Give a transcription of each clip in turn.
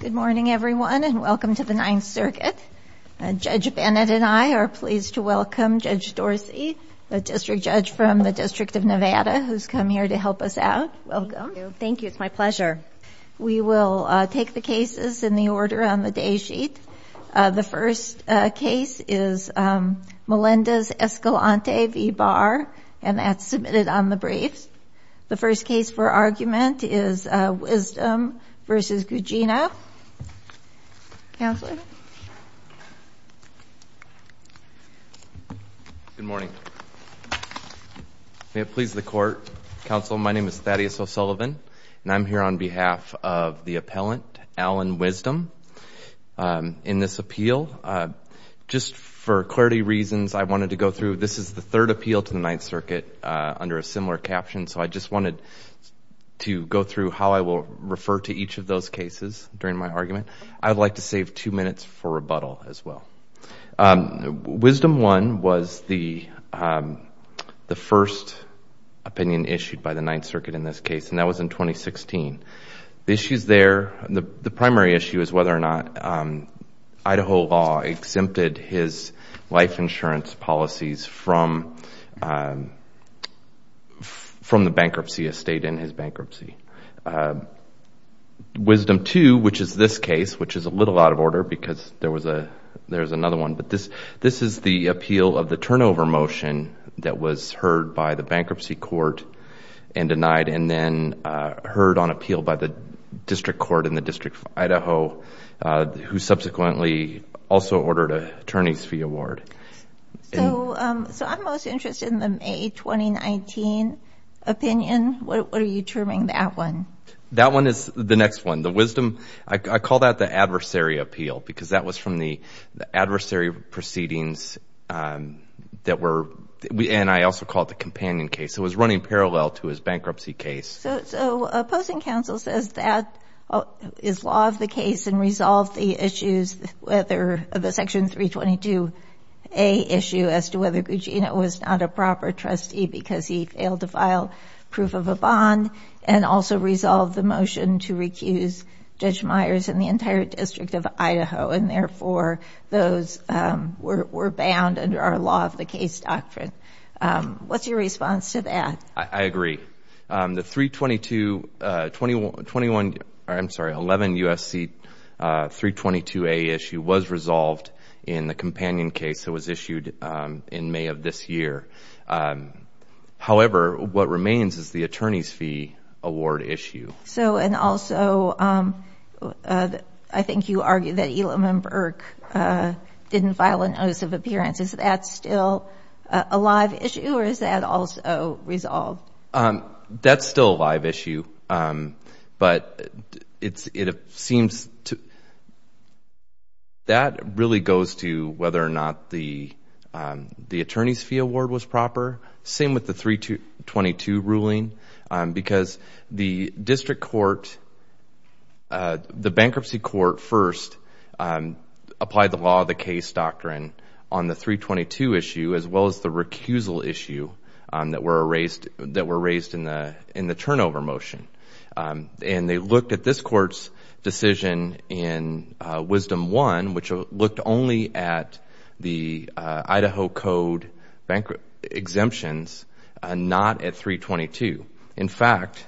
Good morning, everyone, and welcome to the Ninth Circuit. Judge Bennett and I are pleased to welcome Judge Dorsey, the district judge from the District of Nevada, who's come here to help us out. Welcome. Thank you. It's my pleasure. We will take the cases in the order on the day sheet. The first case is Melendez-Escalante v. Barr, and that's submitted on the briefs. The first case for argument is Wisdom v. Gugino. Counselor? Thaddeus O'Sullivan Good morning. May it please the Court, Counsel, my name is Thaddeus O'Sullivan, and I'm here on behalf of the appellant, Alan Wisdom, in this appeal. Just for clarity reasons, I wanted to go through, this is the third appeal to the Ninth Circuit under a similar caption, so I just wanted to go through how I will refer to each of those cases during my argument. I'd like to save two minutes for rebuttal as well. Wisdom 1 was the first opinion issued by the Ninth Circuit in this case, and that was in 2016. The issues there, the primary issue is whether or not Idaho law exempted his life insurance policies from the bankruptcy estate and his bankruptcy. Wisdom 2, which is this case, which is a little out of order because there was another one, but this is the appeal of the turnover motion that was heard by the bankruptcy court and denied and then heard on appeal by the district court in the District of Idaho, who subsequently also ordered an attorney's fee award. So I'm most interested in the May 2019 opinion, what are you terming that one? That one is the next one. The Wisdom, I call that the adversary appeal because that was from the adversary proceedings that were, and I also call it the companion case, so it was running parallel to his bankruptcy case. So opposing counsel says that is law of the case and resolve the issues, whether the Section 322A issue as to whether Gugino was not a proper trustee because he failed to file proof of a bond and also resolve the motion to recuse Judge Myers and the entire District of Idaho and therefore those were bound under our law of the case doctrine. What's your response to that? I agree. The 322, 21, I'm sorry, 11 U.S.C. 322A issue was resolved in the companion case that was issued in May of this year. However, what remains is the attorney's fee award issue. So and also, I think you argued that Elam and Burke didn't file a notice of appearance. Is that still a live issue or is that also resolved? That's still a live issue but it seems to, that really goes to whether or not the attorney's fee award was proper, same with the 322 ruling because the district court, the bankruptcy court first applied the law of the case doctrine on the 322 issue as well as the recusal issue that were raised in the turnover motion and they looked at this court's decision in Wisdom One which looked only at the Idaho Code exemptions and not at 322. In fact,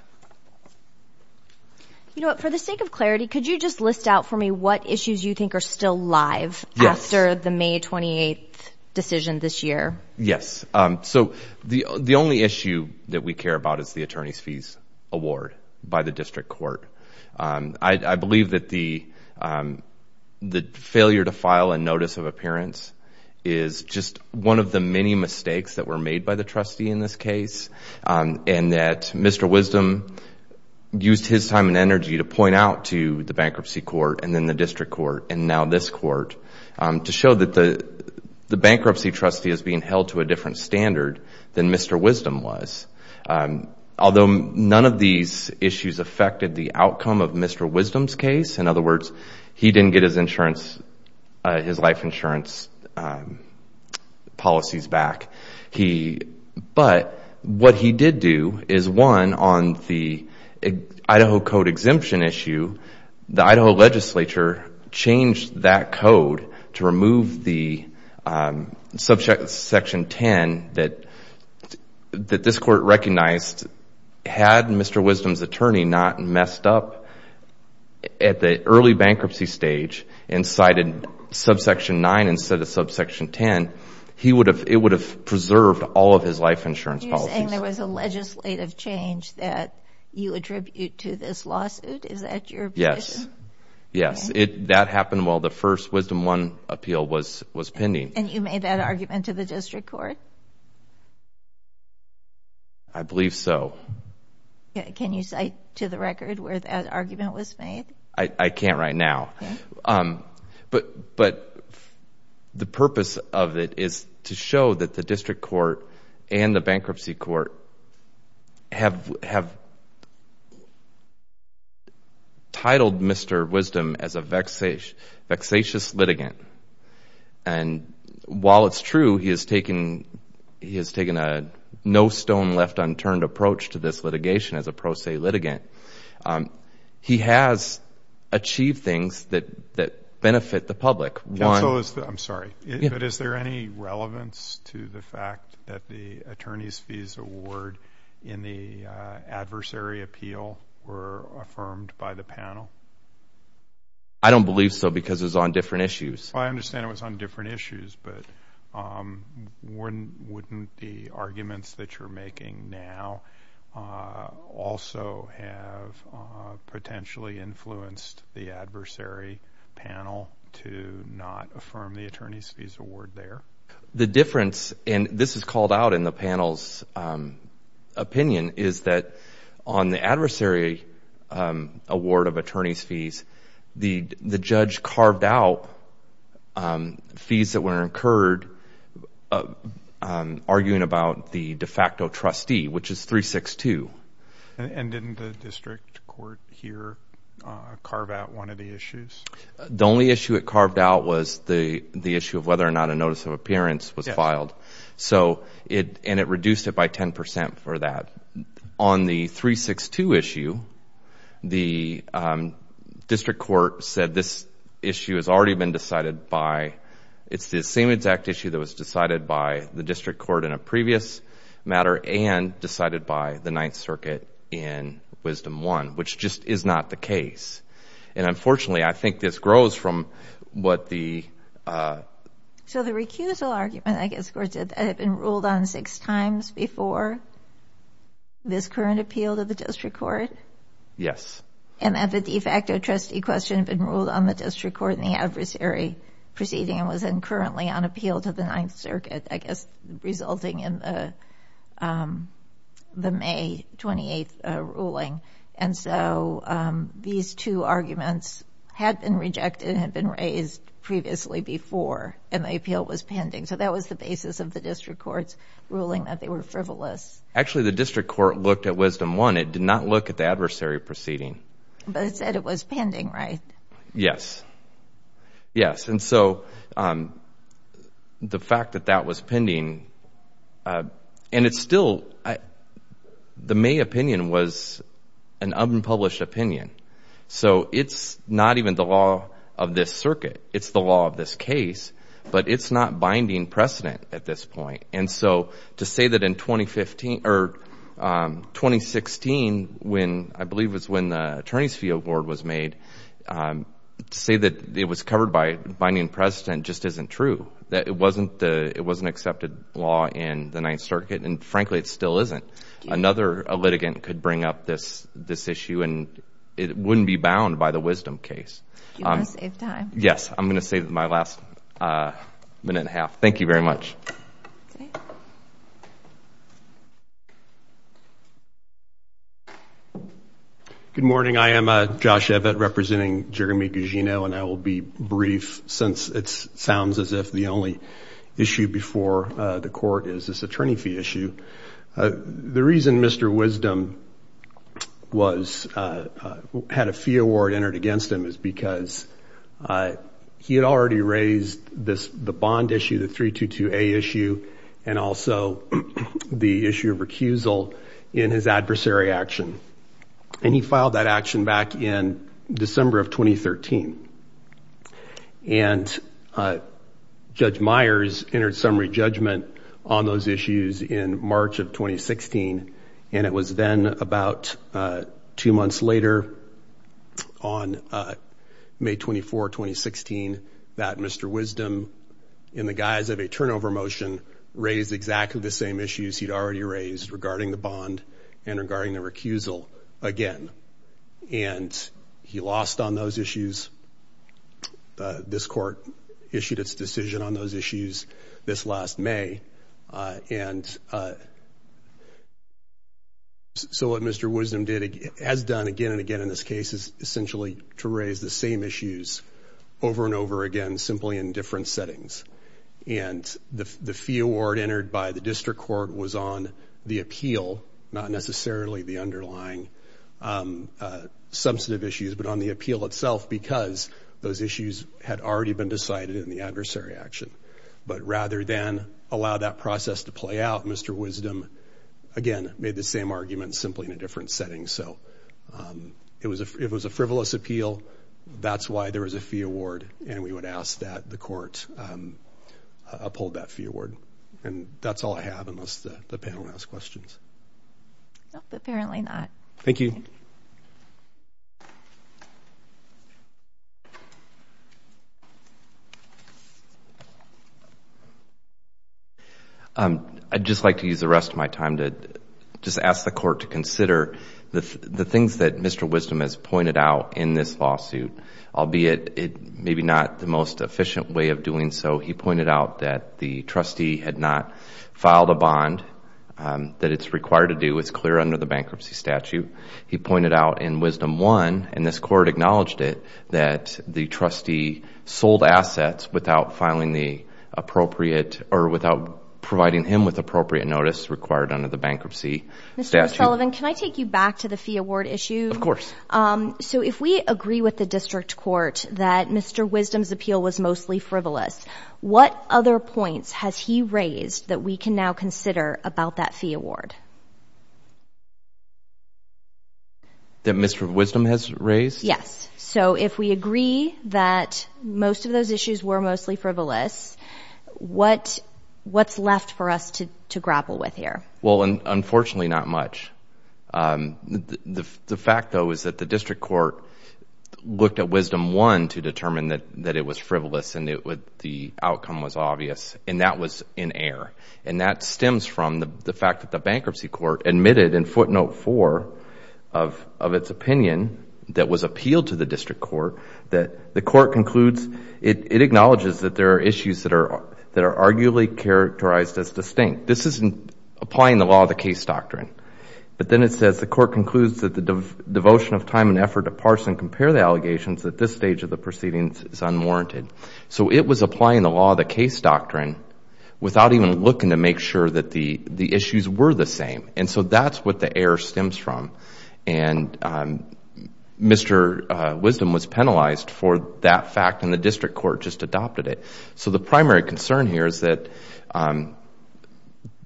you know what, for the sake of clarity, could you just list out for me what issues you think are still live after the May 28th decision this year? Yes. So the only issue that we care about is the attorney's fees award by the district court. I believe that the failure to file a notice of appearance is just one of the many mistakes that were made by the trustee in this case and that Mr. Wisdom used his time and energy to point out to the bankruptcy court and then the district court and now this court to show that the bankruptcy trustee is being held to a different standard than Mr. Wisdom was. Although none of these issues affected the outcome of Mr. Wisdom's case, in other words, he didn't get his life insurance policies back. But what he did do is one, on the Idaho Code exemption issue, the Idaho legislature changed that code to remove the subsection 10 that this court recognized. Had Mr. Wisdom's attorney not messed up at the early bankruptcy stage and cited subsection 9 instead of subsection 10, it would have preserved all of his life insurance policies. You're saying there was a legislative change that you attribute to this lawsuit? Is that your position? Yes. That happened while the first Wisdom 1 appeal was pending. And you made that argument to the district court? I believe so. Can you cite to the record where that argument was made? I can't right now. But the purpose of it is to show that the district court and the bankruptcy court have titled Mr. Wisdom as a vexatious litigant. And while it's true he has taken a no stone left unturned approach to this litigation as a pro se litigant, he has achieved things that benefit the public. I'm sorry, but is there any relevance to the fact that the attorney's fees award in the adversary appeal were affirmed by the panel? I don't believe so because it was on different issues. I understand it was on different issues, but wouldn't the arguments that you're making now also have potentially influenced the adversary panel to not affirm the attorney's fees award there? The difference, and this is called out in the panel's opinion, is that on the adversary award of attorney's fees, the judge carved out fees that were incurred arguing about the de facto trustee, which is 362. And didn't the district court here carve out one of the issues? The only issue it carved out was the issue of whether or not a notice of appearance was filed, and it reduced it by 10% for that. On the 362 issue, the district court said this issue has already been decided by... It's the same exact issue that was decided by the district court in a previous matter and decided by the Ninth Circuit in Wisdom 1, which just is not the case. And unfortunately, I think this grows from what the... So the recusal argument, I guess the court said, that had been ruled on six times before this current appeal to the district court? Yes. And that the de facto trustee question had been ruled on the district court in the adversary proceeding and was then currently on appeal to the Ninth Circuit, I guess resulting in the May 28th ruling. And so these two arguments had been rejected and had been raised previously before, and the appeal was pending. So that was the basis of the district court's ruling that they were frivolous. Actually, the district court looked at Wisdom 1. It did not look at the adversary proceeding. But it said it was pending, right? Yes. Yes. And so the fact that that was pending... And it's still... The May opinion was an unpublished opinion. So it's not even the law of this circuit. It's the law of this case, but it's not binding precedent at this point. And so to say that in 2015... Or 2016, I believe was when the Attorney's Fee Award was made, to say that it was covered by binding precedent just isn't true. It wasn't accepted law in the Ninth Circuit, and frankly, it still isn't. Another litigant could bring up this issue, and it wouldn't be bound by the Wisdom case. You're going to save time. Yes. I'm going to save my last minute and a half. Thank you very much. Okay. Good morning. I am Josh Evett, representing Jeremy Gugino, and I will be brief since it sounds as if the only issue before the court is this attorney fee issue. The reason Mr. Wisdom had a fee award entered against him is because he had already raised the bond issue, the 322A issue, and also the issue of recusal in his adversary action. And he filed that action back in December of 2013. And Judge Myers entered summary judgment on those issues in March of 2016, and it was then about two months later, on May 24, 2016, that Mr. Wisdom, in the guise of a turnover motion, raised exactly the same issues he'd already raised regarding the bond and regarding the recusal again. And he lost on those issues. This court issued its decision on those issues this last May. And so what Mr. Wisdom has done again and again in this case is essentially to raise the same issues over and over again, simply in different settings. And the fee award entered by the district court was on the appeal, not necessarily the because those issues had already been decided in the adversary action. But rather than allow that process to play out, Mr. Wisdom, again, made the same argument simply in a different setting. So it was a frivolous appeal. That's why there was a fee award, and we would ask that the court uphold that fee award. And that's all I have, unless the panel has questions. Thank you. Thank you. Thank you. I'd just like to use the rest of my time to just ask the court to consider the things that Mr. Wisdom has pointed out in this lawsuit, albeit maybe not the most efficient way of doing so. He pointed out that the trustee had not filed a bond that it's required to do. It's clear under the bankruptcy statute. He pointed out in Wisdom 1, and this court acknowledged it, that the trustee sold assets without filing the appropriate, or without providing him with appropriate notice required under the bankruptcy statute. Mr. O'Sullivan, can I take you back to the fee award issue? Of course. So if we agree with the district court that Mr. Wisdom's appeal was mostly frivolous, what other points has he raised that we can now consider about that fee award? That Mr. Wisdom has raised? Yes. So if we agree that most of those issues were mostly frivolous, what's left for us to grapple with here? Well, unfortunately, not much. The fact, though, is that the district court looked at Wisdom 1 to determine that it was frivolous and the outcome was obvious, and that was in error. And that stems from the fact that the bankruptcy court admitted in footnote 4 of its opinion that was appealed to the district court that the court concludes, it acknowledges that there are issues that are arguably characterized as distinct. This isn't applying the law of the case doctrine, but then it says the court concludes that the devotion of time and effort to parse and compare the allegations at this stage of the proceedings is unwarranted. So it was applying the law of the case doctrine without even looking to make sure that the issues were the same. And so that's what the error stems from. And Mr. Wisdom was penalized for that fact and the district court just adopted it. So the primary concern here is that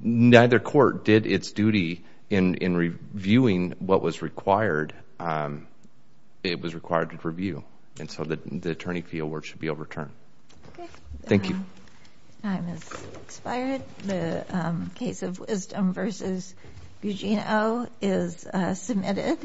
neither court did its duty in reviewing what was required. And it was required to review. And so the attorney fieldwork should be overturned. Thank you. The time has expired. The case of Wisdom v. Gugino is submitted.